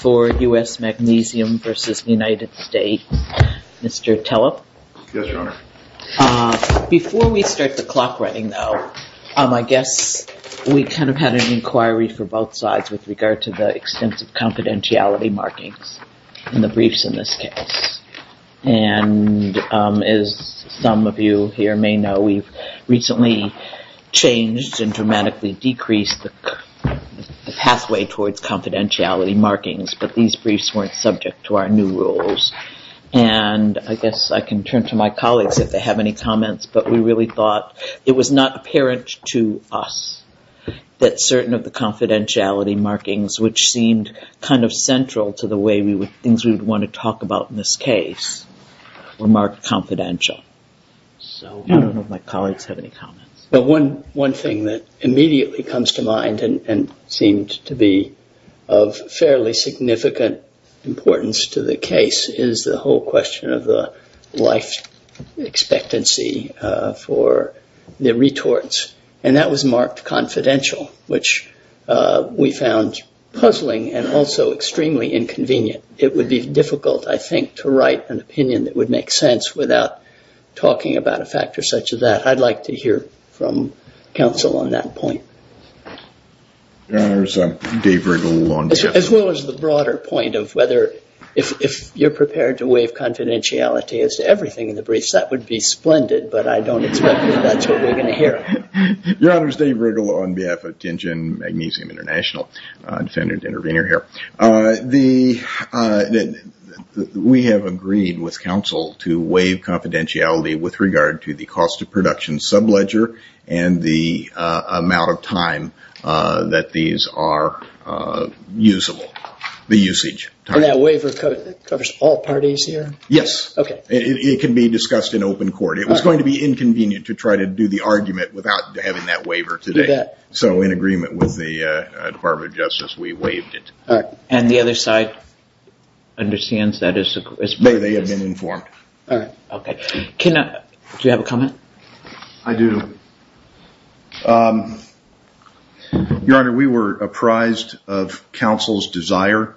for U.S. Magnesium v. United States. Mr. Tellep? Yes, Your Honor. Before we start the clock running, though, I guess we kind of had an inquiry for both sides with regard to the extensive confidentiality markings in the briefs in this case. And as some of you here may know, we've recently changed and dramatically decreased the pathway towards confidentiality markings, but these briefs weren't subject to our new rules. And I guess I can turn to my colleagues if they have any comments, but we really thought it was not apparent to us that certain of the confidentiality markings, which seemed kind of central to the way things we would want to talk about in this case, were marked confidential. So I don't know if my colleagues have any comments. One thing that immediately comes to mind and seemed to be of fairly significant importance to the case is the whole question of the life expectancy for the retorts. And that was marked confidential, which we found puzzling and also extremely inconvenient. It would be difficult, I think, to write an opinion that would make sense without talking about a factor such as that. I'd like to hear from counsel on that point. As well as the broader point of whether if you're prepared to waive confidentiality as to everything in the briefs, that would be splendid, but I don't expect that that's what we're going to hear. Your Honor, it's Dave Riggle on behalf of Tingen Magnesium International, defendant intervener here. We have agreed with counsel to waive confidentiality with regard to the cost of production sub-ledger and the amount of time that these are usable, the usage time. That waiver covers all parties here? Yes. Okay. It can be discussed in open court. It was going to be inconvenient to try to do the argument without having that waiver today. So in agreement with the Department of Justice, we waived it. And the other side understands that as well? They have been informed. Do you have a comment? I do. Your Honor, we were apprised of counsel's desire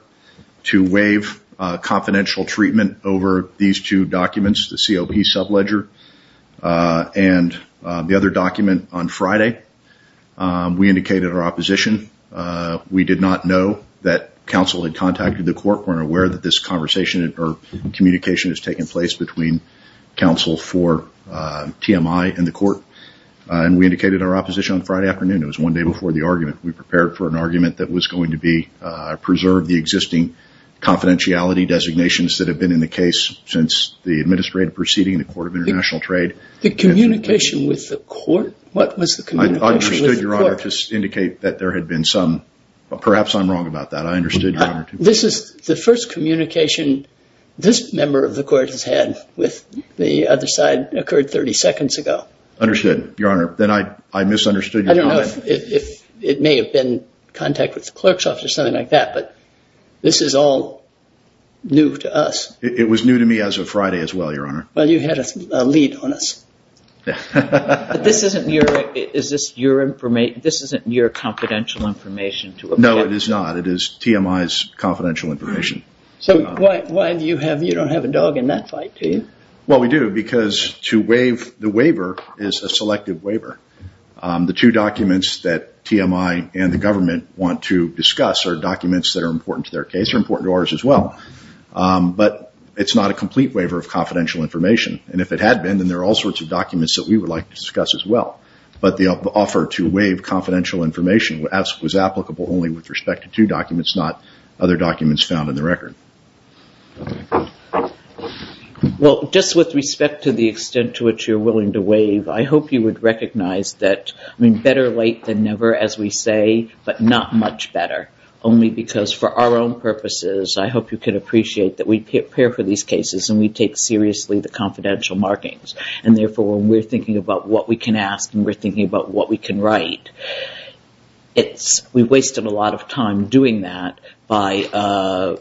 to waive confidential treatment over these two documents, the COP sub-ledger and the other document on Friday. We indicated our opposition. We did not know that counsel had contacted the court. We're aware that this conversation or communication has taken place between counsel for TMI and the court. And we indicated our opposition on Friday afternoon. It was one day before the argument. We prepared for an argument that was going to preserve the existing confidentiality designations that have been in the case since the administrative proceeding in the Court of International Trade. The communication with the court? What was the communication with the court? I understood, Your Honor, to indicate that there had been some... Perhaps I'm wrong about that. I understood, Your Honor. This is the first communication this member of the court has had with the other side occurred 30 seconds ago. Understood, Your Honor. Then I misunderstood your point. I don't know if it may have been contact with the clerk's office or something like that, but this is all new to us. It was new to me as of Friday as well, Your Honor. Well, you had a lead on us. But this isn't your confidential information to... No, it is not. It is TMI's confidential information. So why do you have... You don't have a dog in that fight, do you? Well, we do because to waive the waiver is a selective waiver. The two documents that TMI and the government want to discuss are important to their case. They're important to ours as well. But it's not a complete waiver of confidential information. And if it had been, then there are all sorts of documents that we would like to discuss as well. But the offer to waive confidential information was applicable only with respect to two documents, not other documents found in the record. Well, just with respect to the extent to which you're willing to waive, I hope you would recognize that better late than never, as we say, but not much better, only because for our own purposes, I hope you can appreciate that we prepare for these cases and we take seriously the confidential markings. And therefore, when we're thinking about what we can ask and we're thinking about what we can write, we've wasted a lot of time doing that by a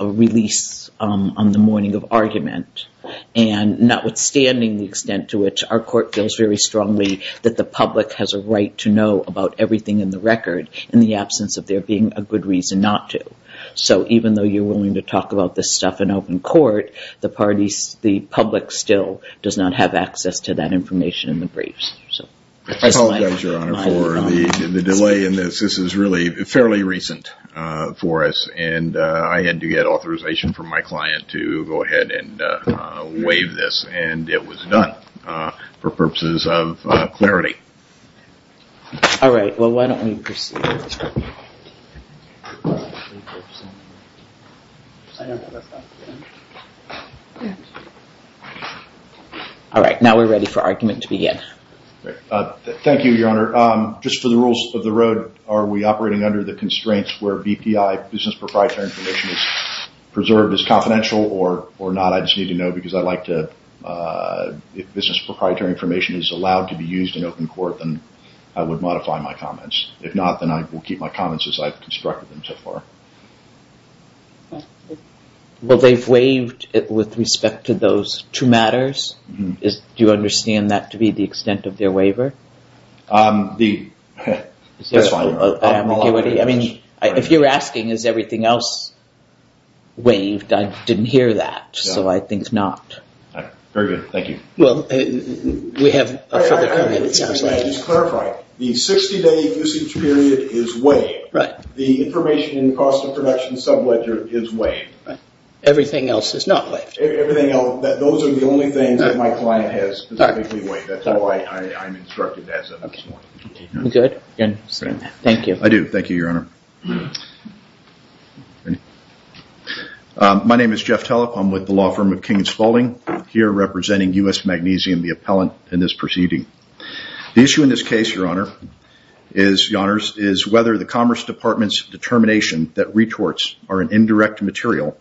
release on the morning of argument. And notwithstanding the extent to which our court feels very strongly that the public has a right to know about everything in the case and not to. So even though you're willing to talk about this stuff in open court, the public still does not have access to that information in the briefs. I apologize, Your Honor, for the delay in this. This is really fairly recent for us. And I had to get authorization from my client to go ahead and waive this. And it was done for purposes of clarity. All right. Well, why don't we proceed? All right. Now we're ready for argument to begin. Thank you, Your Honor. Just for the rules of the road, are we operating under the constraints where BPI, Business Proprietary Information, is preserved as confidential or not? I just need to know because I'd like to, if business is in court, then I would modify my comments. If not, then I will keep my comments as I've constructed them so far. Well, they've waived it with respect to those two matters. Do you understand that to be the extent of their waiver? That's fine, Your Honor. I mean, if you're asking is everything else waived, I didn't hear that. So I think not. All right. Very good. Thank you. Well, we have a further comment. I just want to clarify. The 60-day usage period is waived. Right. The information in the cost of production sub-ledger is waived. Everything else is not waived. Everything else, those are the only things that my client has specifically waived. That's why I'm instructed as of this morning. Good. Thank you. I do. Thank you, Your Honor. My name is Jeff Telep. I'm with the law firm of King and Spaulding, here representing U.S. Magnesium, the appellant in this proceeding. The issue in this case, Your Honor, is whether the Commerce Department's determination that retorts are an indirect material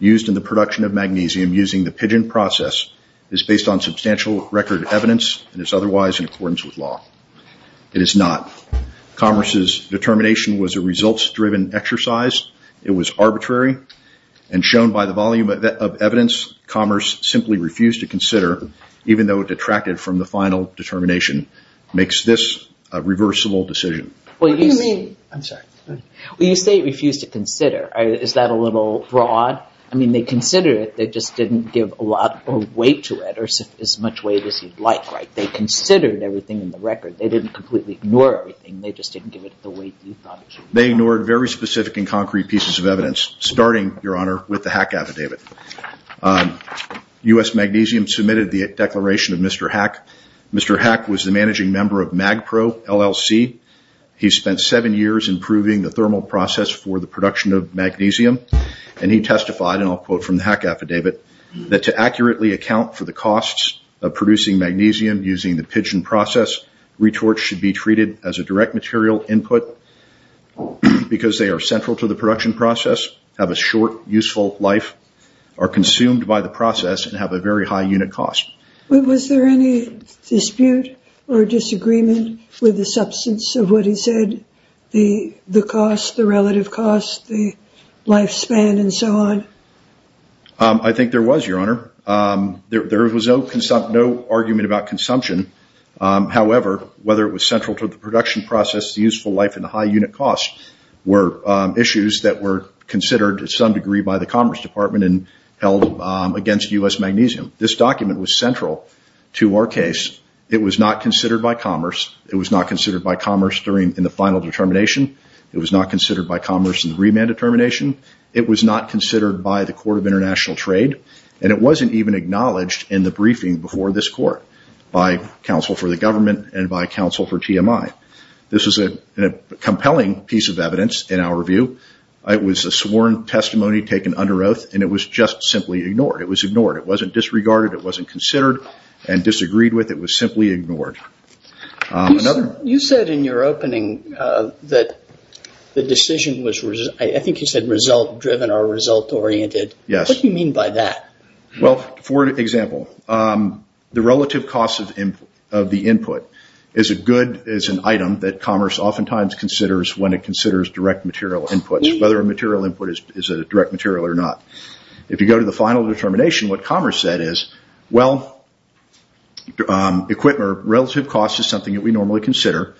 used in the production of magnesium using the pigeon process is based on substantial record evidence and is otherwise in accordance with law. It is not. Commerce's determination was a results-driven exercise. It was arbitrary. And shown by the volume of evidence, Commerce simply refused to consider, even though it detracted from the final determination, makes this a reversible decision. What do you mean? I'm sorry. Well, you say it refused to consider. Is that a little broad? I mean, they considered it. They just didn't give a lot of weight to it or as much weight as you'd like, right? They considered everything in the record. They didn't completely ignore everything. They just didn't give it the weight you thought it should be. They ignored very specific and concrete pieces of evidence, starting, Your Honor, with the HACC affidavit. U.S. Magnesium submitted the declaration of Mr. HACC. Mr. HACC was the managing member of MAGPRO, LLC. He spent seven years improving the thermal process for the affidavit, that to accurately account for the costs of producing magnesium using the pigeon process, retorts should be treated as a direct material input because they are central to the production process, have a short, useful life, are consumed by the process, and have a very high unit cost. Was there any dispute or disagreement with the substance of what he said, the cost, the relative cost, the lifespan, and so on? I think there was, Your Honor. There was no argument about consumption. However, whether it was central to the production process, the useful life, and the high unit cost were issues that were considered to some degree by the Commerce Department and held against U.S. magnesium. This document was central to our case. It was not considered by Commerce. It was not considered by Commerce in the final determination. It was not considered by Commerce in the remand determination. It was not considered by the Court of International Trade. It wasn't even acknowledged in the briefing before this Court by counsel for the government and by counsel for TMI. This is a compelling piece of evidence in our review. It was a sworn testimony taken under oath, and it was just simply ignored. It was ignored. It wasn't disregarded. It wasn't considered and disagreed with. It was simply ignored. You said in your opening that the decision was, I think you said, result-driven or result-oriented. Yes. What do you mean by that? Well, for example, the relative cost of the input is a good, is an item that Commerce oftentimes considers when it considers direct material inputs, whether a material input is a direct material or not. If you go to the final determination, what Commerce said is, well, relative cost is something that we normally consider.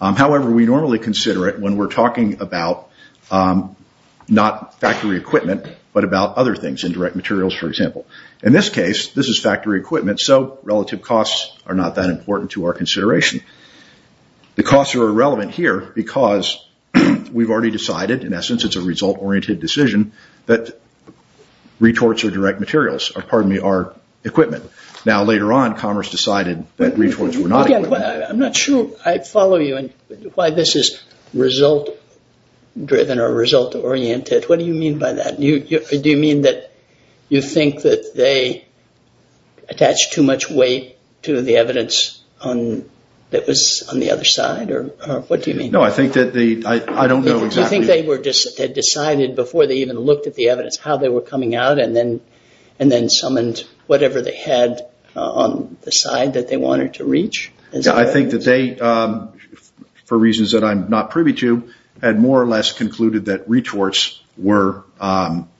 However, we normally consider it when we're talking about not factory equipment, but about other things, indirect materials, for example. In this case, this is factory equipment, so relative costs are not that important to our consideration. The costs are irrelevant here because we've already decided, in essence, it's a result-oriented decision that retorts or direct materials are equipment. Now, later on, Commerce decided that retorts were not equipment. I'm not sure I follow you and why this is result-driven or result-oriented. What do you mean by that? Do you mean that you think that they attached too much weight to the evidence that was on the other side, or what do you mean? No, I think that they, I don't know exactly. Do you think they had decided before they even looked at the evidence how they were coming out and then summoned whatever they had on the side that they wanted to reach? I think that they, for reasons that I'm not privy to, had more or less concluded that retorts were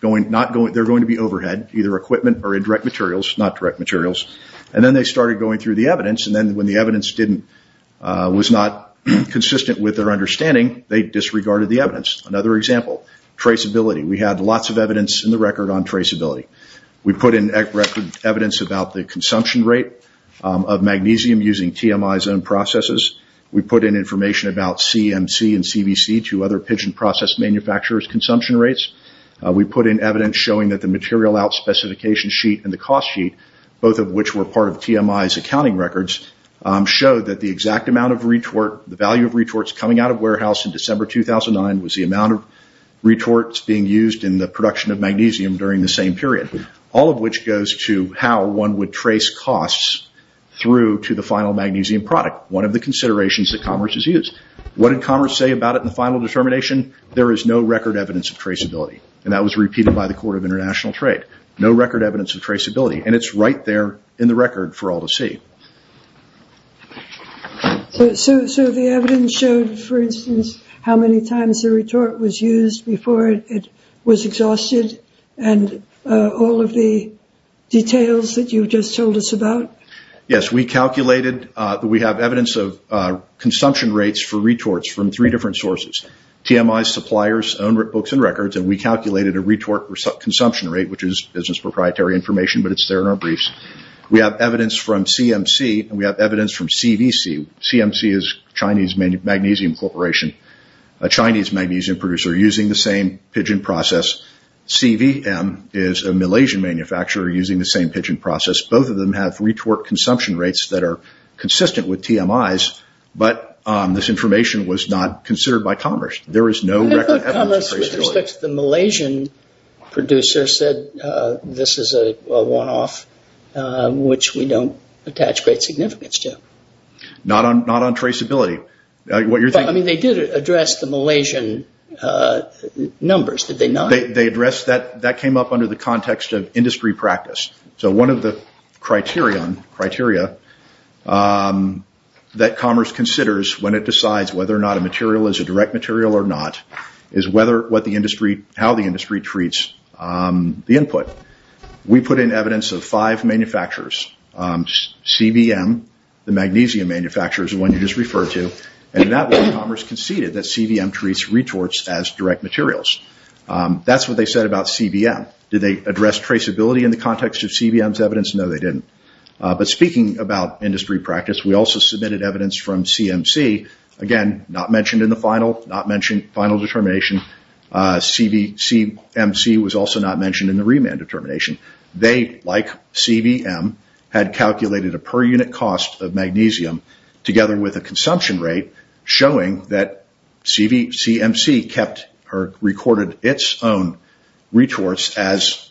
going to be overhead, either equipment or indirect materials, not direct materials. Then they started going through the evidence. Then when the evidence was not consistent with their understanding, they disregarded the evidence. Another example, traceability. We had lots of evidence in the record on traceability. We put in record evidence about the consumption rate of magnesium using TMI's own processes. We put in information about CMC and CBC, two other pigeon process manufacturers' consumption rates. We put in evidence showing that the material out specification sheet and the cost sheet, both of which were part of TMI's accounting records, showed that the exact amount of retort, the value of retorts coming out of warehouse in December 2009 was the amount of retorts being used in the production of magnesium during the same period, all of which goes to how one would trace costs through to the final magnesium product, one of the considerations that commerce has used. What did commerce say about it in the final determination? There is no record evidence of traceability. That was repeated by the Court of International Trade. No record evidence of traceability. It's right there in the record for all to see. The evidence showed, for instance, how many times the retort was used before it was exhausted and all of the details that you just told us about? Yes. We have evidence of consumption rates for retorts from three different sources. TMI's suppliers own books and records. We calculated a retort consumption rate, which is business proprietary information, but it's there in our briefs. We have evidence from CMC and we have evidence from CVC. CMC is Chinese Magnesium Corporation, a Chinese magnesium producer using the same pigeon process. CVM is a Malaysian manufacturer using the same pigeon process. Both of them have retort consumption rates that are consistent with TMI's, but this information was not considered by commerce. I thought commerce, with respect to the Malaysian producer, said this is a one-off, which we don't attach great significance to. Not on traceability. They did address the Malaysian numbers, did they not? That came up under the context of industry practice. One of the criteria that commerce considers when it decides whether or not a material is a direct material or not is how the industry treats the input. We put in evidence of five manufacturers. CVM, the magnesium manufacturer, is the one you just referred to. Commerce conceded that CVM treats retorts as direct materials. That's what they said about CVM. Did they address traceability in the context of CVM's evidence? No, they didn't. Speaking about industry practice, we also submitted evidence from CMC. Again, not mentioned in the final determination. CVCMC was also not mentioned in the remand determination. They, like CVM, had calculated a per unit cost of magnesium together with a consumption rate showing that CVCMC recorded its own retorts as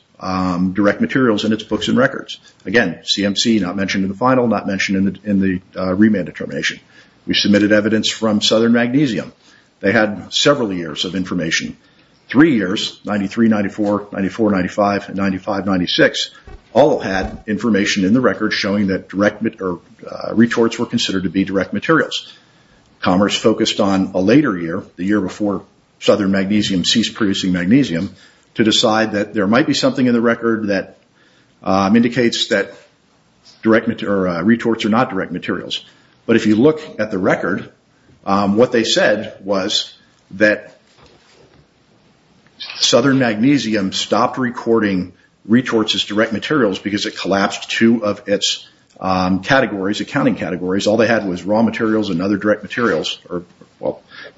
direct materials in its books and records. Again, CMC not mentioned in the final, not mentioned in the remand determination. We submitted evidence from Southern Magnesium. They had several years of information. Three years, 93, 94, 94, 95, 95, 96, all had information in the record showing that retorts were considered to be direct materials. Commerce focused on a later year, the year before Southern Magnesium ceased producing magnesium to decide that there might be something in the record that indicates that retorts are not direct materials. If you look at the record, what they said was that Southern Magnesium stopped recording retorts as direct materials because it collapsed two of its accounting categories. All they had was raw materials and other direct materials,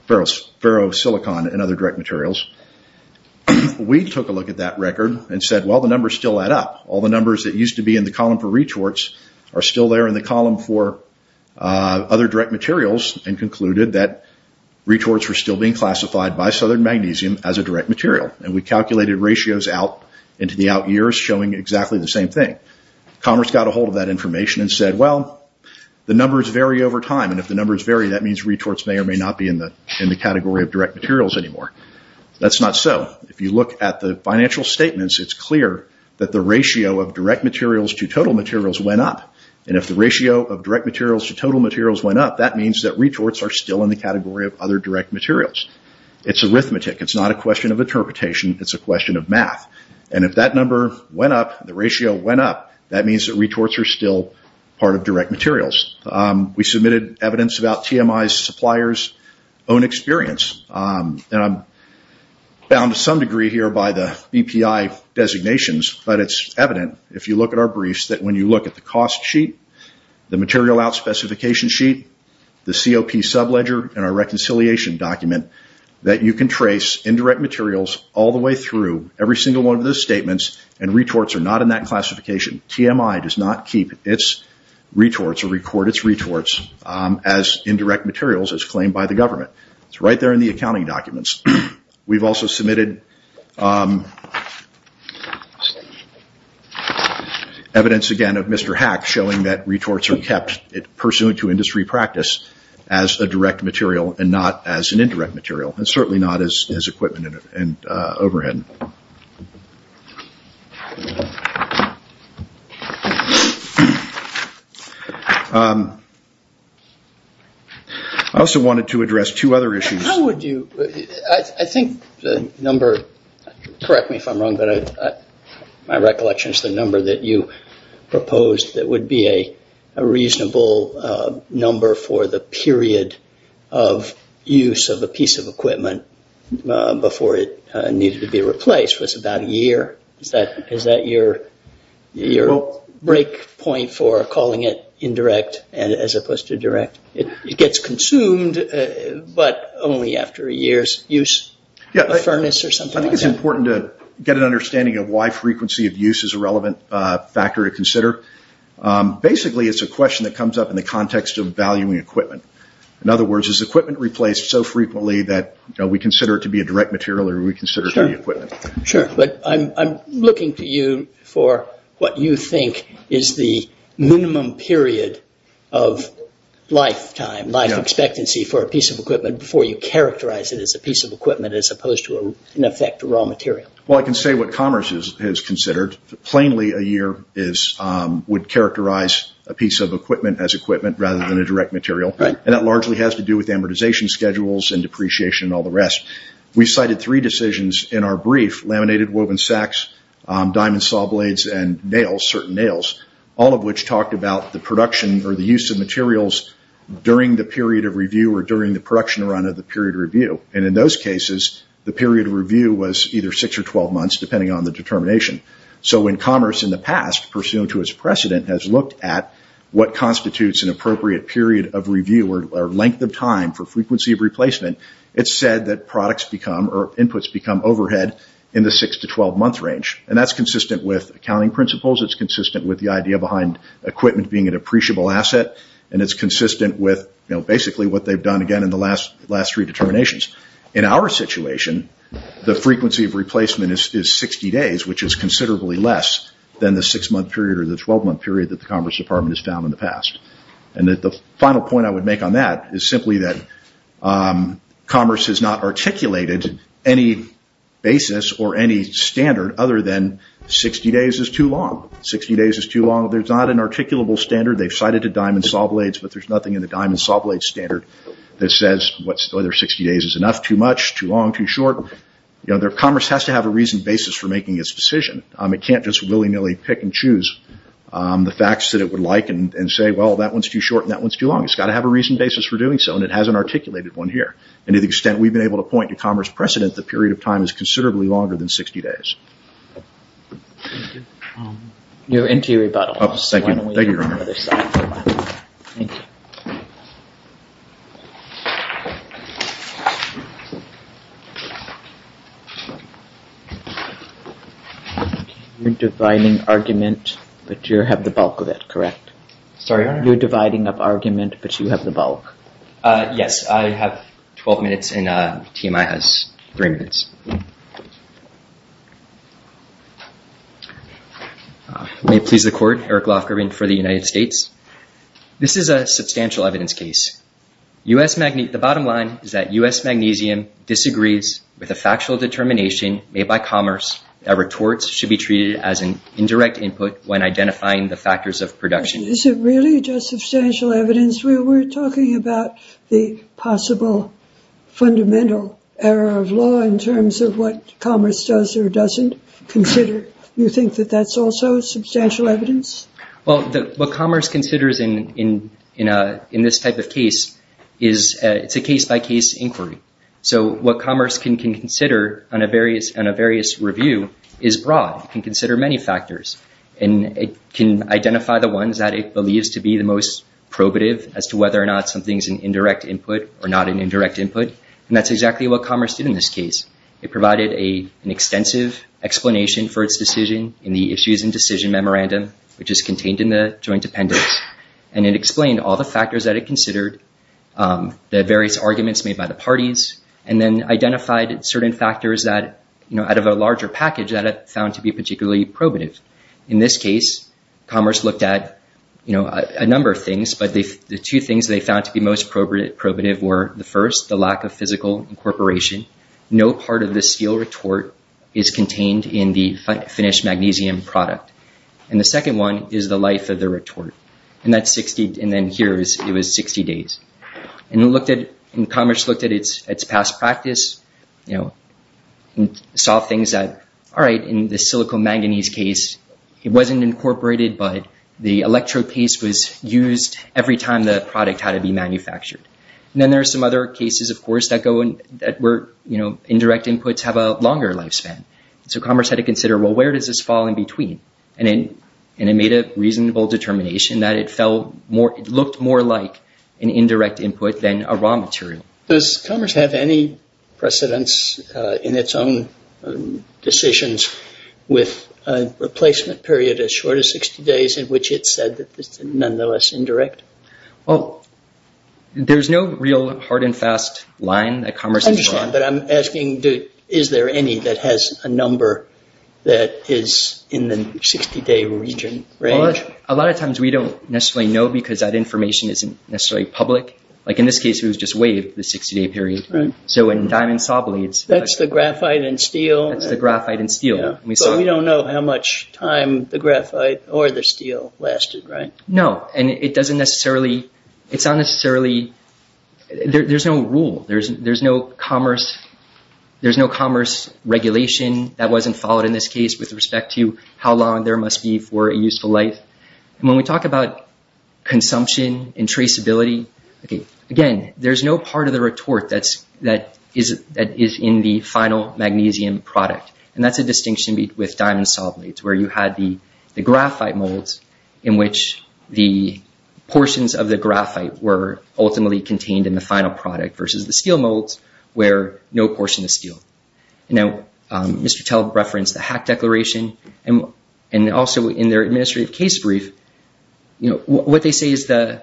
ferrosilicon and other direct materials. We took a look at that record and said, well, the numbers still add up. All the numbers that used to be in the column for retorts are still there in the column for other direct materials and concluded that retorts were still being classified by Southern Magnesium as a direct material. We calculated ratios out into the out years showing exactly the same thing. Commerce got a hold of that information and said, well, the numbers vary over time. If the numbers vary, that means retorts may or may not be in the category of direct materials anymore. That's not so. If you look at the financial statements, it's clear that the ratio of direct materials to total materials went up. If the ratio of direct materials to total materials went up, that means that retorts are still in the category of other direct materials. It's arithmetic. It's not a question of interpretation. It's a question of math. If that number went up, the ratio went up, that means that retorts are still part of direct materials. We submitted evidence about TMI's supplier's own experience. I'm bound to some degree here by the BPI designations, but it's evident if you look at our briefs that when you look at the cost sheet, the material out specification sheet, the COP sub ledger, and our reconciliation document, that you can trace indirect materials all the way through every single one of those statements, and retorts are not in that classification. TMI does not keep its retorts or record its retorts as indirect materials as claimed by the government. It's right there in the accounting documents. We've also submitted evidence again of Mr. Hack showing that retorts are kept pursuant to industry practice as a direct material and not as an indirect material, and certainly not as equipment and overhead. I also wanted to address two other issues. I think the number, correct me if I'm wrong, but my recollection is the number that you proposed that would be a reasonable number for the period of use of a piece of equipment before it needed to be replaced was about a year. Is that your break point for calling it indirect as opposed to direct? It gets consumed, but only after a year's use. I think it's important to get an understanding of why frequency of use is a relevant factor to consider. Basically, it's a question that comes up in the context of valuing equipment. In other words, is equipment replaced so frequently that we consider it to be a direct material or do we consider it to be equipment? Sure, but I'm looking to you for what you think is the minimum period of lifetime, life expectancy for a piece of equipment before you characterize it as a piece of equipment as opposed to, in effect, raw material. I can say what Commerce has considered. Plainly, a year would characterize a piece of equipment as equipment rather than a direct material. That largely has to do with amortization schedules and depreciation and all the rest. We cited three decisions in our brief, laminated woven sacks, diamond saw blades, and nails, certain nails, all of which talked about the production or the use of materials during the period of review or during the production run of the period of review. In those cases, the period of review was either six or 12 months, depending on the determination. When Commerce, in the past, pursuant to its precedent, has looked at what constitutes an appropriate period of review or length of time for frequency of replacement, it's said that products become or inputs become overhead in the six to 12-month range. That's consistent with accounting principles. It's consistent with the idea behind equipment being an appreciable asset. It's consistent with basically what they've done, again, in the last three determinations. In our situation, the frequency of replacement is 60 days, which is considerably less than the six-month period or the 12-month period that the Commerce Department has found in the past. The final point I would make on that is simply that Commerce has not articulated any basis or any standard other than 60 days is too long. 60 days is too long. There's not an articulable standard. They've cited the diamond saw blades, but there's nothing in the diamond saw blade standard that says whether 60 days is enough, too much, too long, too short. Commerce has to have a reasoned basis for making its decision. It can't just willy-nilly pick and choose the facts that it would like and say, well, that one's too short and that one's too long. It's got to have a reasoned basis for doing so, and it hasn't articulated one here. To the extent we've been able to point to Commerce precedent, the period of time is considerably longer than 60 days. Thank you. You're into your rebuttal. Thank you, Your Honor. Thank you. You're dividing argument, but you have the bulk of it, correct? Sorry, Your Honor? You're dividing up argument, but you have the bulk. Yes, I have 12 minutes and TMI has three minutes. May it please the Court, Eric Lofgren for the United States. This is a substantial evidence case. The bottom line is that U.S. Magnesium disagrees with a factual determination made by Commerce that retorts should be treated as an indirect input when identifying the factors of production. Is it really just substantial evidence? We were talking about the possible fundamental error of law in terms of what Commerce does or doesn't consider. You think that that's also substantial evidence? Well, what Commerce considers in this type of case is it's a case-by-case inquiry. So what Commerce can consider on a various review is broad. It can consider many factors, and it can identify the ones that it believes to be the most probative as to whether or not something is an indirect input or not an indirect input. And that's exactly what Commerce did in this case. It provided an extensive explanation for its decision in the Issues and Decision Memorandum, which is contained in the Joint Appendix. And it explained all the factors that it considered, the various arguments made by the parties, and then identified certain factors out of a larger package that it found to be particularly probative. In this case, Commerce looked at a number of things, but the two things they found to be most probative were, the first, the lack of physical incorporation. No part of the steel retort is contained in the finished magnesium product. And the second one is the life of the retort. And then here it was 60 days. And Commerce looked at its past practice and saw things that, all right, in the silico-manganese case, it wasn't incorporated, but the electrode paste was used every time the product had to be manufactured. And then there are some other cases, of course, that were indirect inputs have a longer lifespan. So Commerce had to consider, well, where does this fall in between? And it made a reasonable determination that it looked more like an indirect input than a raw material. Does Commerce have any precedence in its own decisions with a replacement period as short as 60 days, in which it said that this is nonetheless indirect? Well, there's no real hard and fast line that Commerce has drawn. But I'm asking, is there any that has a number that is in the 60-day region range? A lot of times we don't necessarily know because that information isn't necessarily public. Like in this case, we just waived the 60-day period. Right. So in diamond saw blades. That's the graphite and steel. That's the graphite and steel. But we don't know how much time the graphite or the steel lasted, right? No. And it doesn't necessarily, it's not necessarily, there's no rule. There's no Commerce regulation that wasn't followed in this case with respect to how long there must be for a useful life. And when we talk about consumption and traceability, again, there's no part of the retort that is in the final magnesium product. And that's a distinction with diamond saw blades, where you had the graphite molds in which the portions of the graphite were ultimately contained in the final product versus the steel molds where no portion of steel. Now, Mr. Tell referenced the HAC declaration. And also in their administrative case brief, what they say is the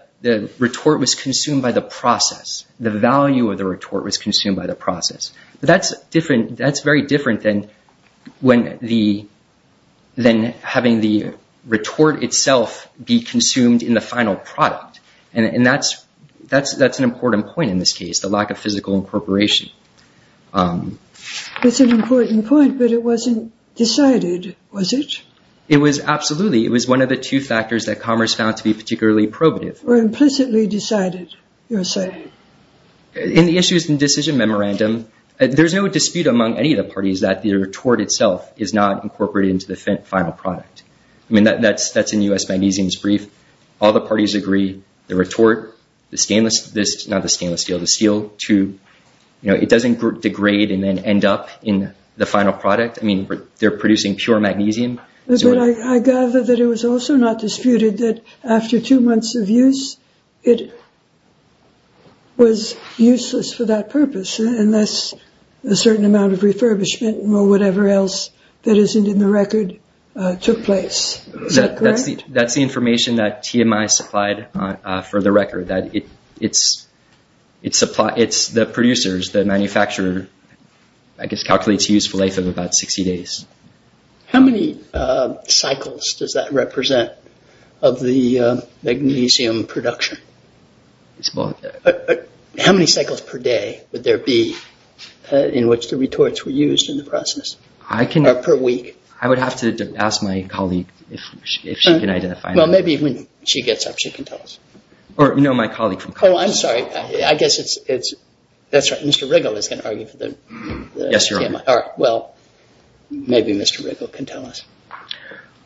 retort was consumed by the process. The value of the retort was consumed by the process. That's very different than having the retort itself be consumed in the final product. And that's an important point in this case, the lack of physical incorporation. It's an important point, but it wasn't decided, was it? It was absolutely. It was one of the two factors that Commerce found to be particularly probative. Or implicitly decided, you're saying. In the issues and decision memorandum, there's no dispute among any of the parties that the retort itself is not incorporated into the final product. I mean, that's in U.S. Magnesium's brief. All the parties agree. The retort, the stainless, not the stainless steel, the steel, too. You know, it doesn't degrade and then end up in the final product. I mean, they're producing pure magnesium. I gather that it was also not disputed that after two months of use, it was useless for that purpose, unless a certain amount of refurbishment or whatever else that isn't in the record took place. Is that correct? That's the information that TMI supplied for the record, that it's the producers, the manufacturer, I guess, calculates the useful life of about 60 days. How many cycles does that represent of the magnesium production? How many cycles per day would there be in which the retorts were used in the process? Or per week? I would have to ask my colleague if she can identify that. Well, maybe when she gets up, she can tell us. Or, no, my colleague from Commerce. Oh, I'm sorry. I guess it's – that's right, Mr. Riggle is going to argue for the TMI. Yes, you're right. All right, well, maybe Mr. Riggle can tell us.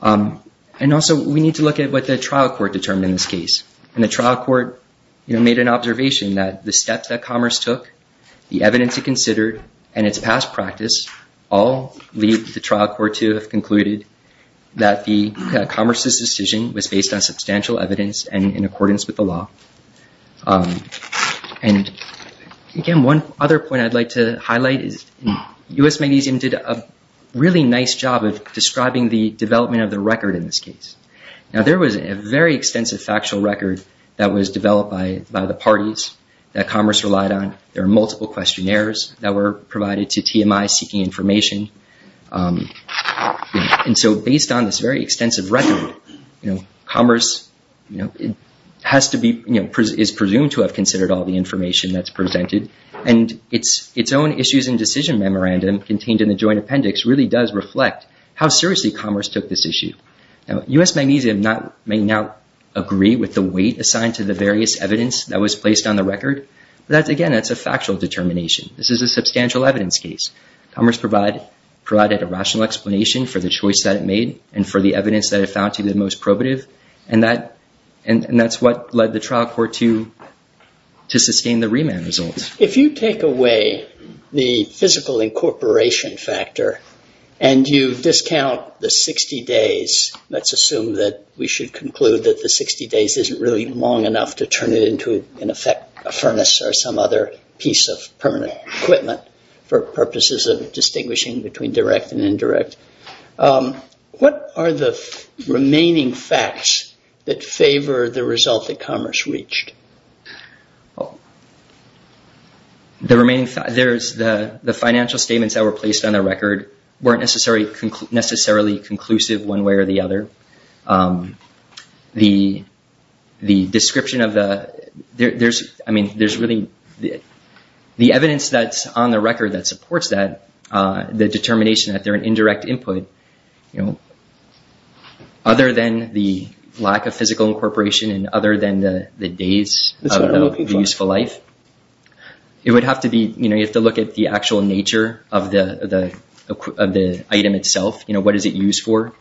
And also, we need to look at what the trial court determined in this case. And the trial court made an observation that the steps that Commerce took, the evidence it considered, and its past practice all lead the trial court to have concluded that Commerce's decision was based on substantial evidence and in accordance with the law. And, again, one other point I'd like to highlight is U.S. Magnesium did a really nice job of describing the development of the record in this case. Now, there was a very extensive factual record that was developed by the parties that Commerce relied on. There are multiple questionnaires that were provided to TMI seeking information. And so based on this very extensive record, Commerce has to be – is presumed to have considered all the information that's presented. And its own issues and decision memorandum contained in the joint appendix really does reflect how seriously Commerce took this issue. Now, U.S. Magnesium may not agree with the weight assigned to the various evidence that was placed on the record, but, again, that's a factual determination. This is a substantial evidence case. Commerce provided a rational explanation for the choice that it made and for the evidence that it found to be the most probative, and that's what led the trial court to sustain the remand results. If you take away the physical incorporation factor and you discount the 60 days, let's assume that we should conclude that the 60 days isn't really long enough to turn it into, in effect, a furnace or some other piece of permanent equipment for purposes of distinguishing between direct and indirect. What are the remaining facts that favor the result that Commerce reached? The remaining – there's the financial statements that were placed on the record weren't necessarily conclusive one way or the other. The description of the – I mean, there's really – the evidence that's on the record that supports that, the determination that they're an indirect input, other than the lack of physical incorporation and other than the days of the useful life, it would have to be – you have to look at the actual nature of the item itself. You know, what is it used for?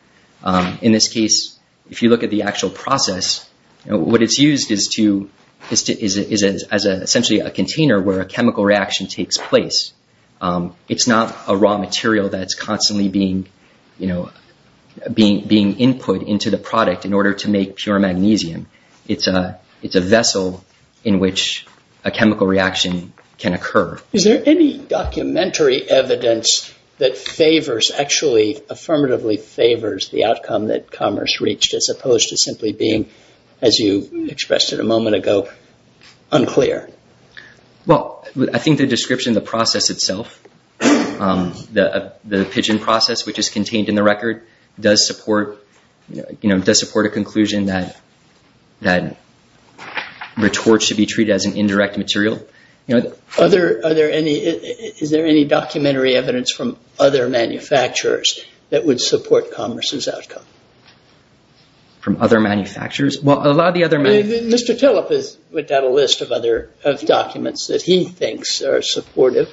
In this case, if you look at the actual process, what it's used is to – is essentially a container where a chemical reaction takes place. It's not a raw material that's constantly being, you know, being input into the product in order to make pure magnesium. It's a vessel in which a chemical reaction can occur. Is there any documentary evidence that favors – actually, affirmatively favors the outcome that Commerce reached, as opposed to simply being, as you expressed it a moment ago, unclear? Well, I think the description of the process itself, the pigeon process, which is contained in the record, does support, you know, does support a conclusion that retort should be treated as an indirect material. Other – are there any – is there any documentary evidence from other manufacturers that would support Commerce's outcome? From other manufacturers? Well, a lot of the other – Mr. Tillop has written out a list of other – of documents that he thinks are supportive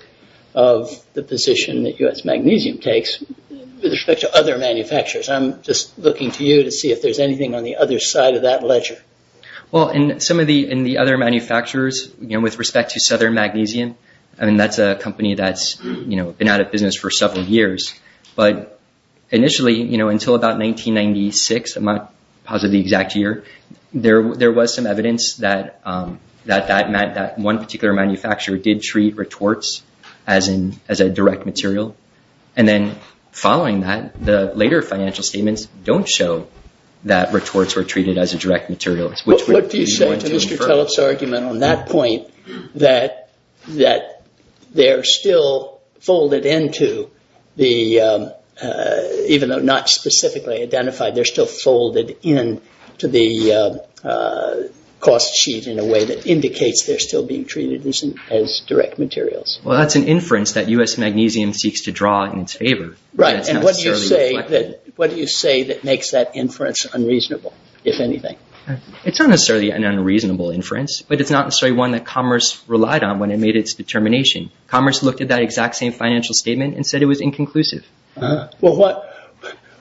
of the position that U.S. Magnesium takes with respect to other manufacturers. I'm just looking to you to see if there's anything on the other side of that ledger. Well, in some of the – in the other manufacturers, you know, with respect to Southern Magnesium, I mean, that's a company that's, you know, been out of business for several years. But initially, you know, until about 1996, I'm not positive of the exact year, there was some evidence that that meant that one particular manufacturer did treat retorts as a direct material. And then following that, the later financial statements don't show that retorts were treated as a direct material. What do you say to Mr. Tillop's argument on that point, that they're still folded into the – even though not specifically identified, they're still folded into the cost sheet in a way that indicates they're still being treated as direct materials? Well, that's an inference that U.S. Magnesium seeks to draw in its favor. Right. And what do you say that – what do you say that makes that inference unreasonable, if anything? It's not necessarily an unreasonable inference, but it's not necessarily one that commerce relied on when it made its determination. Commerce looked at that exact same financial statement and said it was inconclusive. Well, what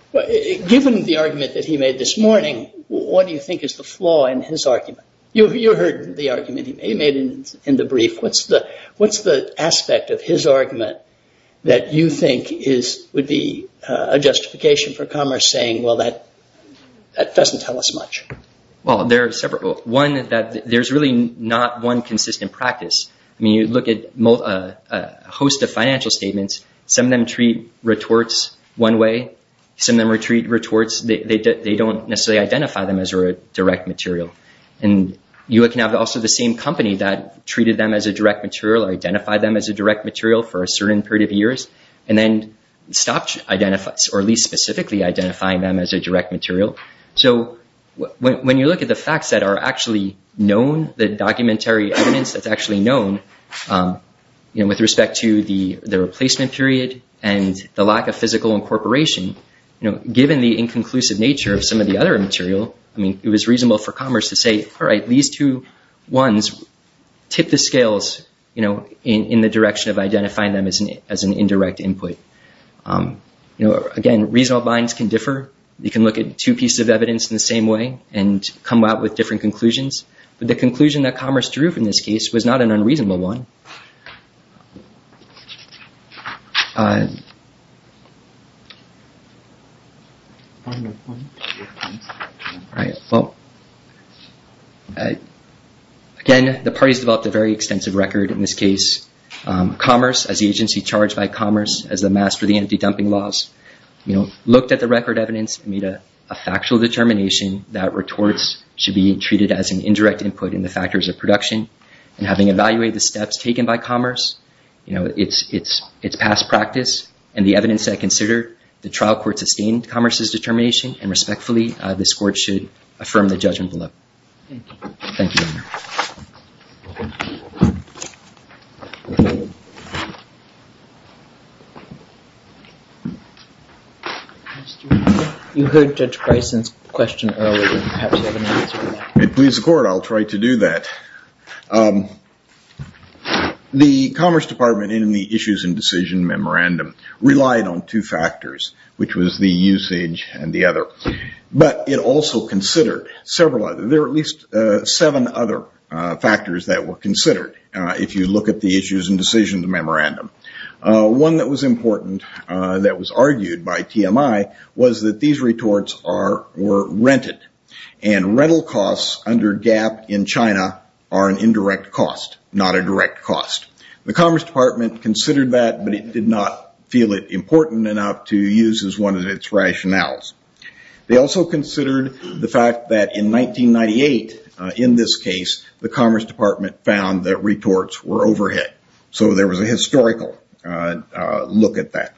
– given the argument that he made this morning, what do you think is the flaw in his argument? You heard the argument he made in the brief. What's the aspect of his argument that you think would be a justification for commerce saying, well, that doesn't tell us much? Well, there are several. One is that there's really not one consistent practice. I mean, you look at a host of financial statements, some of them treat retorts one way, some of them treat retorts – they don't necessarily identify them as a direct material. And you can have also the same company that treated them as a direct material or identified them as a direct material for a certain period of years and then stopped identifying – or at least specifically identifying them as a direct material. So when you look at the facts that are actually known, the documentary evidence that's actually known, with respect to the replacement period and the lack of physical incorporation, given the inconclusive nature of some of the other material, I mean, it was reasonable for commerce to say, all right, these two ones tip the scales in the direction of identifying them as an indirect input. Again, reasonable minds can differ. You can look at two pieces of evidence in the same way and come out with different conclusions. But the conclusion that commerce drew from this case was not an unreasonable one. All right, well, again, the parties developed a very extensive record in this case. Commerce, as the agency charged by commerce as the master of the empty dumping laws, looked at the record evidence and made a factual determination that retorts should be treated as an indirect input in the factors of production. And having evaluated the steps taken by commerce, you know, it's past practice, and the evidence that I consider the trial court sustained commerce's determination, and respectfully this Court should affirm the judgment below. Thank you. You heard Judge Bryson's question earlier. If it pleases the Court, I'll try to do that. The Commerce Department in the issues and decision memorandum relied on two factors, which was the usage and the other. But it also considered several other. There are at least seven other factors that were considered if you look at the issues and decisions memorandum. One that was important that was argued by TMI was that these retorts were rented, and rental costs under GAAP in China are an indirect cost, not a direct cost. The Commerce Department considered that, but it did not feel it important enough to use as one of its rationales. They also considered the fact that in 1998, in this case, the Commerce Department found that retorts were overhead. So there was a historical look at that.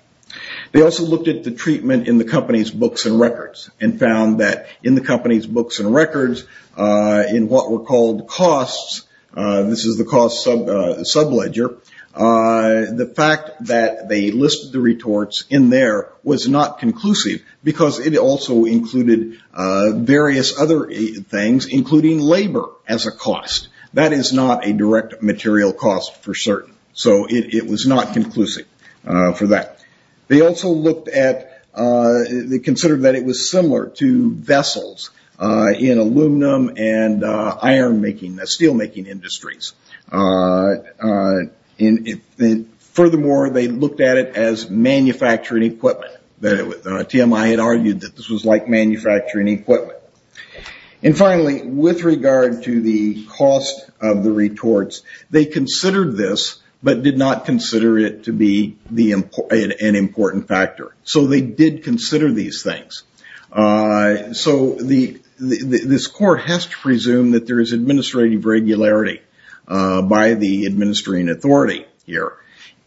They also looked at the treatment in the company's books and records, and found that in the company's books and records, in what were called costs, this is the cost subledger, the fact that they listed the retorts in there was not conclusive, because it also included various other things, including labor as a cost. That is not a direct material cost for certain. So it was not conclusive for that. They also considered that it was similar to vessels in aluminum and ironmaking, steelmaking industries. Furthermore, they looked at it as manufacturing equipment. TMI had argued that this was like manufacturing equipment. And finally, with regard to the cost of the retorts, they considered this, but did not consider it to be an important factor. So they did consider these things. So this court has to presume that there is administrative regularity by the administering authority here,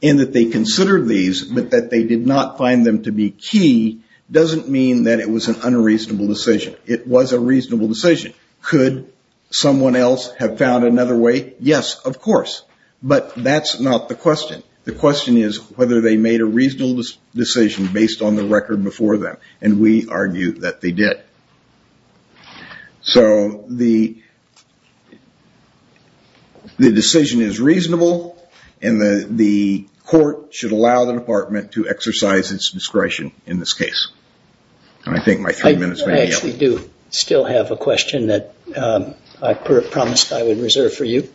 and that they considered these, but that they did not find them to be key doesn't mean that it was an unreasonable decision. It was a reasonable decision. Could someone else have found another way? Yes, of course. But that's not the question. The question is whether they made a reasonable decision based on the record before them. And we argue that they did. So the decision is reasonable, and the court should allow the department to exercise its discretion in this case. I actually do still have a question that I promised I would reserve for you,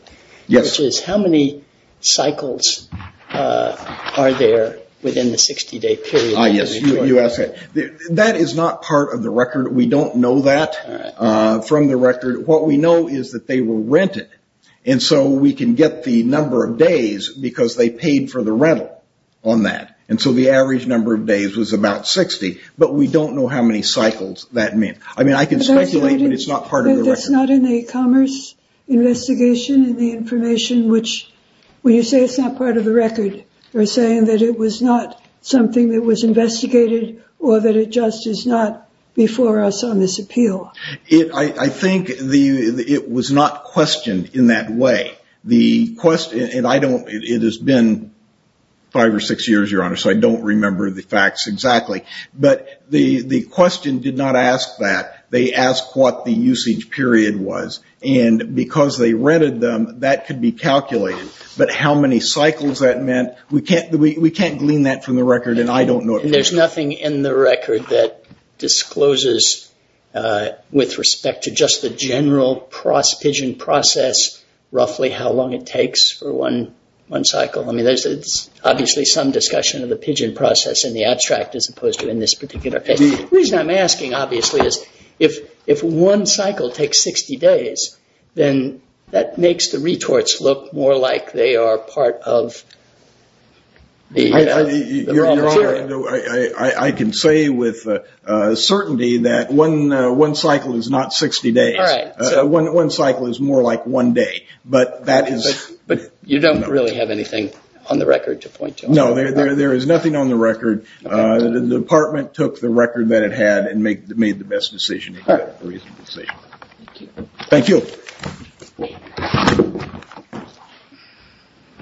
which is how many cycles are there within the 60-day period? That is not part of the record. We don't know that from the record. What we know is that they were rented. And so we can get the number of days because they paid for the rental on that. And so the average number of days was about 60, but we don't know how many cycles that means. I mean, I can speculate, but it's not part of the record. But that's not in the e-commerce investigation and the information, which, when you say it's not part of the record, you're saying that it was not something that was investigated or that it just is not before us on this appeal. I think it was not questioned in that way. It has been five or six years, Your Honor, so I don't remember the facts exactly. But the question did not ask that. They asked what the usage period was. And because they rented them, that could be calculated. But how many cycles that meant, we can't glean that from the record, and I don't know it. There's nothing in the record that discloses, with respect to just the general pigeon process, roughly how long it takes for one cycle. I mean, there's obviously some discussion of the pigeon process in the abstract as opposed to in this particular case. The reason I'm asking, obviously, is if one cycle takes 60 days, then that makes the retorts look more like they are part of the raw material. Your Honor, I can say with certainty that one cycle is not 60 days. One cycle is more like one day. But you don't really have anything on the record to point to? No, there is nothing on the record. The department took the record that it had and made the best decision. Thank you.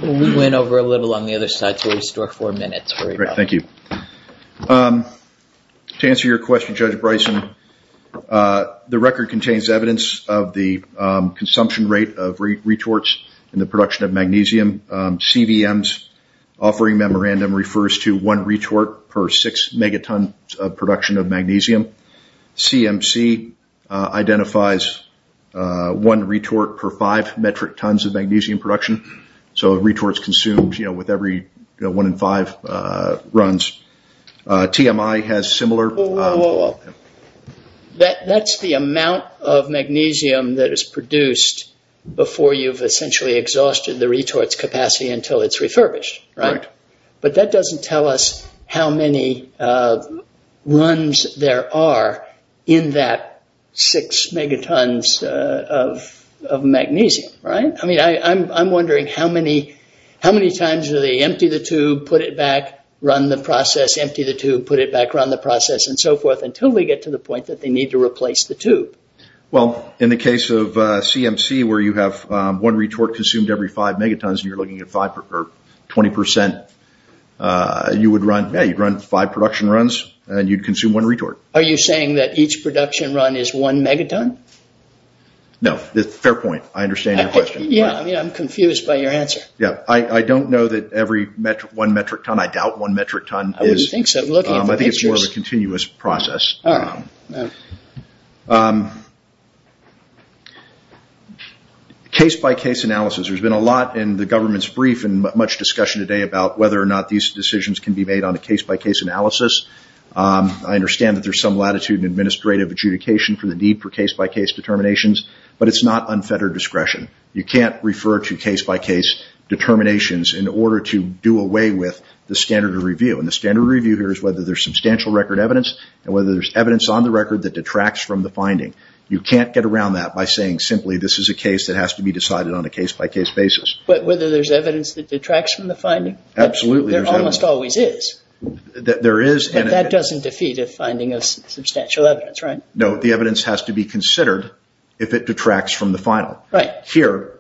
We went over a little on the other side to restore four minutes. Thank you. To answer your question, Judge Bryson, the record contains evidence of the consumption rate of retorts and the production of magnesium. CVM's offering memorandum refers to one retort per six megatons of production of magnesium. CMC identifies one retort per five metric tons of magnesium production. So retorts consumed with every one in five runs. Whoa, whoa, whoa. That's the amount of magnesium that is produced before you've essentially exhausted the retorts capacity until it's refurbished. Right. But that doesn't tell us how many runs there are in that six megatons of magnesium. Right? I mean, I'm wondering how many times do they empty the tube, put it back, run the process, empty the tube, put it back, run the process, and so forth, until we get to the point that they need to replace the tube? Well, in the case of CMC where you have one retort consumed every five megatons and you're looking at 20%, you would run five production runs and you'd consume one retort. Are you saying that each production run is one megaton? No. Fair point. I understand your question. Yeah. I mean, I'm confused by your answer. Yeah. I don't know that every one metric ton, I doubt one metric ton is. I wouldn't think so. I'm looking at the pictures. I think it's more of a continuous process. All right. Next. Case-by-case analysis. There's been a lot in the government's brief and much discussion today about whether or not these decisions can be made on a case-by-case analysis. I understand that there's some latitude in administrative adjudication for the need for case-by-case determinations, but it's not unfettered discretion. You can't refer to case-by-case determinations in order to do away with the standard of review. And the standard of review here is whether there's substantial record evidence and whether there's evidence on the record that detracts from the finding. You can't get around that by saying simply this is a case that has to be decided on a case-by-case basis. But whether there's evidence that detracts from the finding? Absolutely. There almost always is. There is. But that doesn't defeat a finding of substantial evidence, right? No. The evidence has to be considered if it detracts from the final. Right. Here,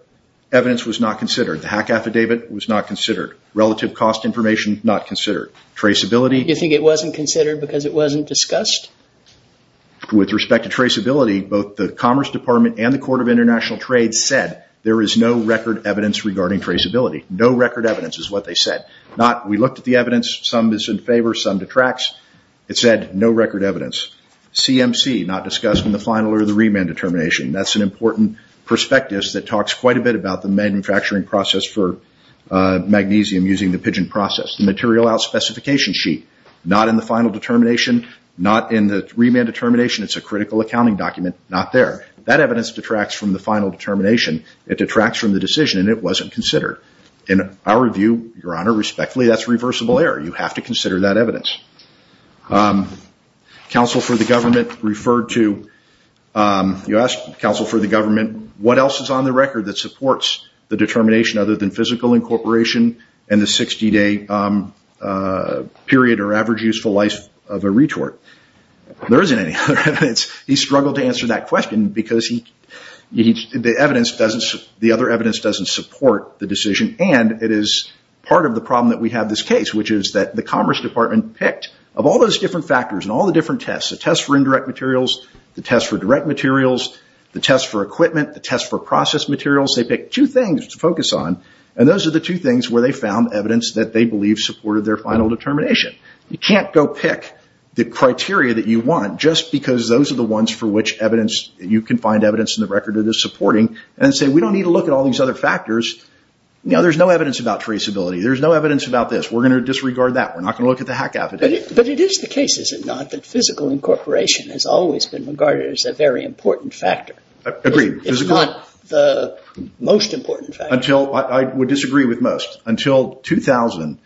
evidence was not considered. The hack affidavit was not considered. Relative cost information, not considered. Traceability? You think it wasn't considered because it wasn't discussed? With respect to traceability, both the Commerce Department and the Court of International Trade said there is no record evidence regarding traceability. No record evidence is what they said. We looked at the evidence. Some is in favor. Some detracts. It said no record evidence. CMC, not discussed in the final or the remand determination. That's an important perspective that talks quite a bit about the manufacturing process for magnesium using the pigeon process. The material out specification sheet? Not in the final determination. Not in the remand determination. It's a critical accounting document. Not there. That evidence detracts from the final determination. It detracts from the decision and it wasn't considered. In our view, Your Honor, respectfully, that's reversible error. You have to consider that evidence. Counsel for the government referred to, you asked counsel for the government, what else is on the record that supports the determination other than physical incorporation and the 60-day period or average useful life of a retort? There isn't any other evidence. He struggled to answer that question because the other evidence doesn't support the decision and it is part of the problem that we have in this case, which is that the Commerce Department picked, of all those different factors and all the different tests, the test for indirect materials, the test for direct materials, the test for equipment, the test for process materials, they picked two things to focus on, and those are the two things where they found evidence that they believe supported their final determination. You can't go pick the criteria that you want just because those are the ones for which you can find evidence in the record that is supporting and say, we don't need to look at all these other factors. There's no evidence about traceability. There's no evidence about this. We're going to disregard that. We're not going to look at the hack affidavit. But it is the case, is it not, that physical incorporation has always been regarded as a very important factor? Agreed. It's not the most important factor. I would disagree with most. Until 2000,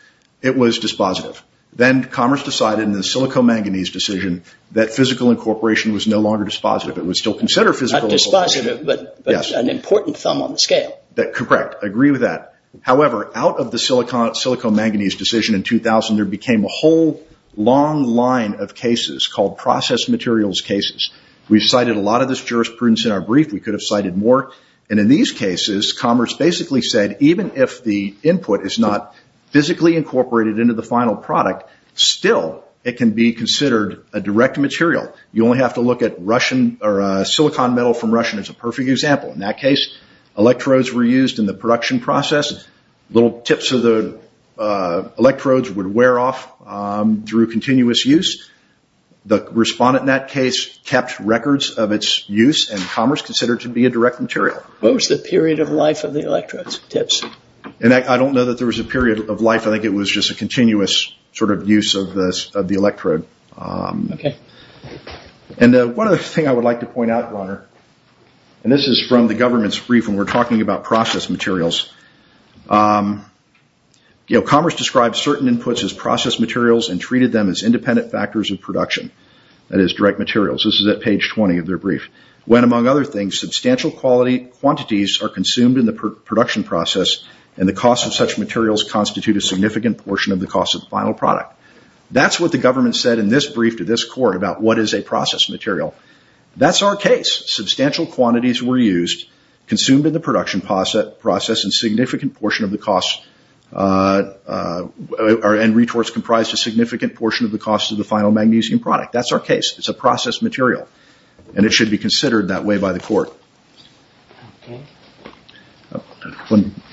it was dispositive. Then Commerce decided in the silico-manganese decision that physical incorporation was no longer dispositive. It was still considered physical incorporation. Still dispositive, but an important thumb on the scale. Correct. I agree with that. However, out of the silico-manganese decision in 2000, there became a whole long line of cases called process materials cases. We've cited a lot of this jurisprudence in our brief. We could have cited more. In these cases, Commerce basically said even if the input is not physically incorporated into the final product, still it can be considered a direct material. You only have to look at silicon metal from Russia, and it's a perfect example. In that case, electrodes were used in the production process. Little tips of the electrodes would wear off through continuous use. The respondent in that case kept records of its use, and Commerce considered it to be a direct material. What was the period of life of the electrodes, tips? I don't know that there was a period of life. I think it was just a continuous sort of use of the electrode. One other thing I would like to point out, Roner, and this is from the government's brief when we're talking about process materials. Commerce described certain inputs as process materials and treated them as independent factors of production, that is direct materials. This is at page 20 of their brief. When, among other things, substantial quantities are consumed in the production process, and the cost of such materials constitute a significant portion of the cost of the final product. That's what the government said in this brief to this court about what is a process material. That's our case. Substantial quantities were used, consumed in the production process, and retorts comprised a significant portion of the cost of the final magnesium product. That's our case. It's a process material, and it should be considered that way by the court.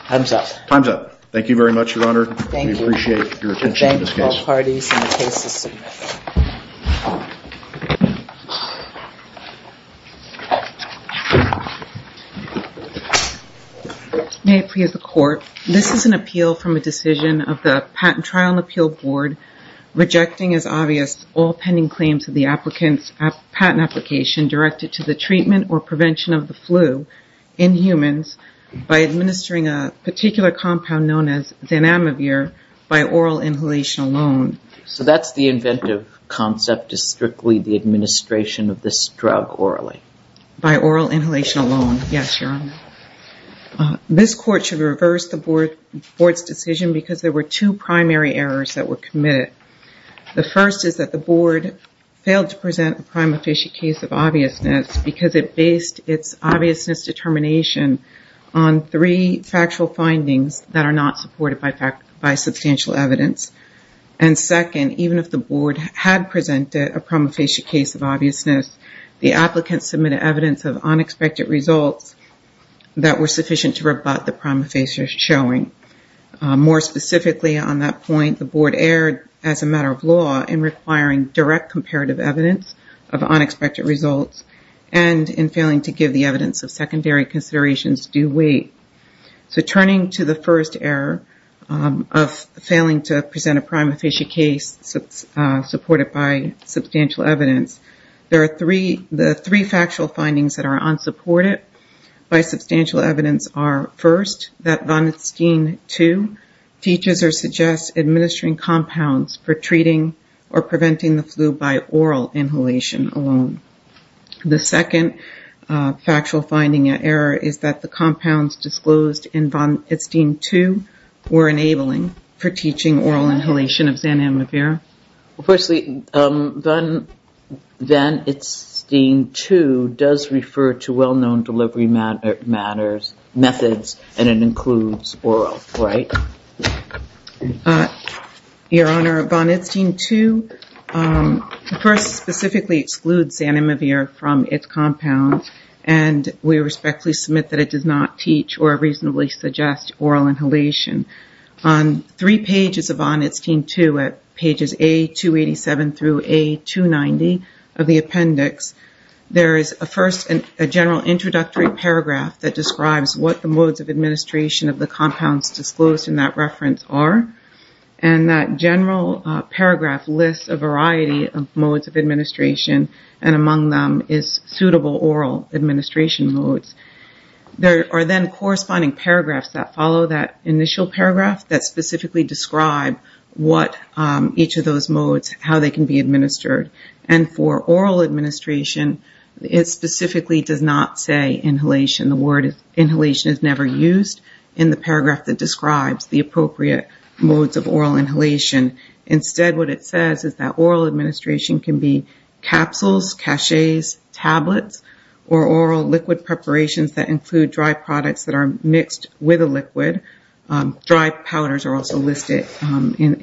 Time's up. Thank you very much, Your Honor. Thank you. We appreciate your attention to this case. I thank all parties in the case's submission. May it please the Court. This is an appeal from a decision of the Patent Trial and Appeal Board, rejecting as obvious all pending claims of the applicant's patent application directed to the treatment or prevention of the flu in humans by administering a particular compound known as Zanamivir by oral inhalation alone. So that's the inventive concept is strictly the administration of this drug orally? By oral inhalation alone, yes, Your Honor. This court should reverse the board's decision because there were two primary errors that were committed. The first is that the board failed to present a prime officiate case of obviousness because it based its obviousness determination on three factual findings that are not supported by substantial evidence. And second, even if the board had presented a prime officiate case of obviousness, the applicant submitted evidence of unexpected results that were sufficient to rebut the prime officiates showing. More specifically on that point, the board erred as a matter of law in requiring direct comparative evidence of unexpected results and in failing to give the evidence of secondary considerations due weight. So turning to the first error of failing to present a prime officiate case supported by substantial evidence, the three factual findings that are unsupported by substantial evidence are, first, that von Steen 2 teaches or suggests administering compounds for treating or preventing the flu by oral inhalation alone. The second factual finding error is that the compounds disclosed in von Steen 2 were enabling for teaching oral inhalation of Xanamivir. Firstly, von Steen 2 does refer to well-known delivery methods and it includes oral, right? Your Honor, von Steen 2 first specifically excludes Xanamivir from its compound and we respectfully submit that it does not teach or reasonably suggest oral inhalation. On three pages of von Steen 2 at pages A287 through A290 of the appendix, there is a first general introductory paragraph that describes what the modes of administration of the compounds disclosed in that reference are and that general paragraph lists a variety of modes of administration and among them is suitable oral administration modes. There are then corresponding paragraphs that follow that initial paragraph that specifically describe what each of those modes, how they can be administered. And for oral administration, it specifically does not say inhalation. The word inhalation is never used in the paragraph that describes the appropriate modes of oral inhalation. Instead, what it says is that oral administration can be capsules, caches, tablets, or oral liquid preparations that include dry products that are mixed with a liquid. Dry powders are also listed in that.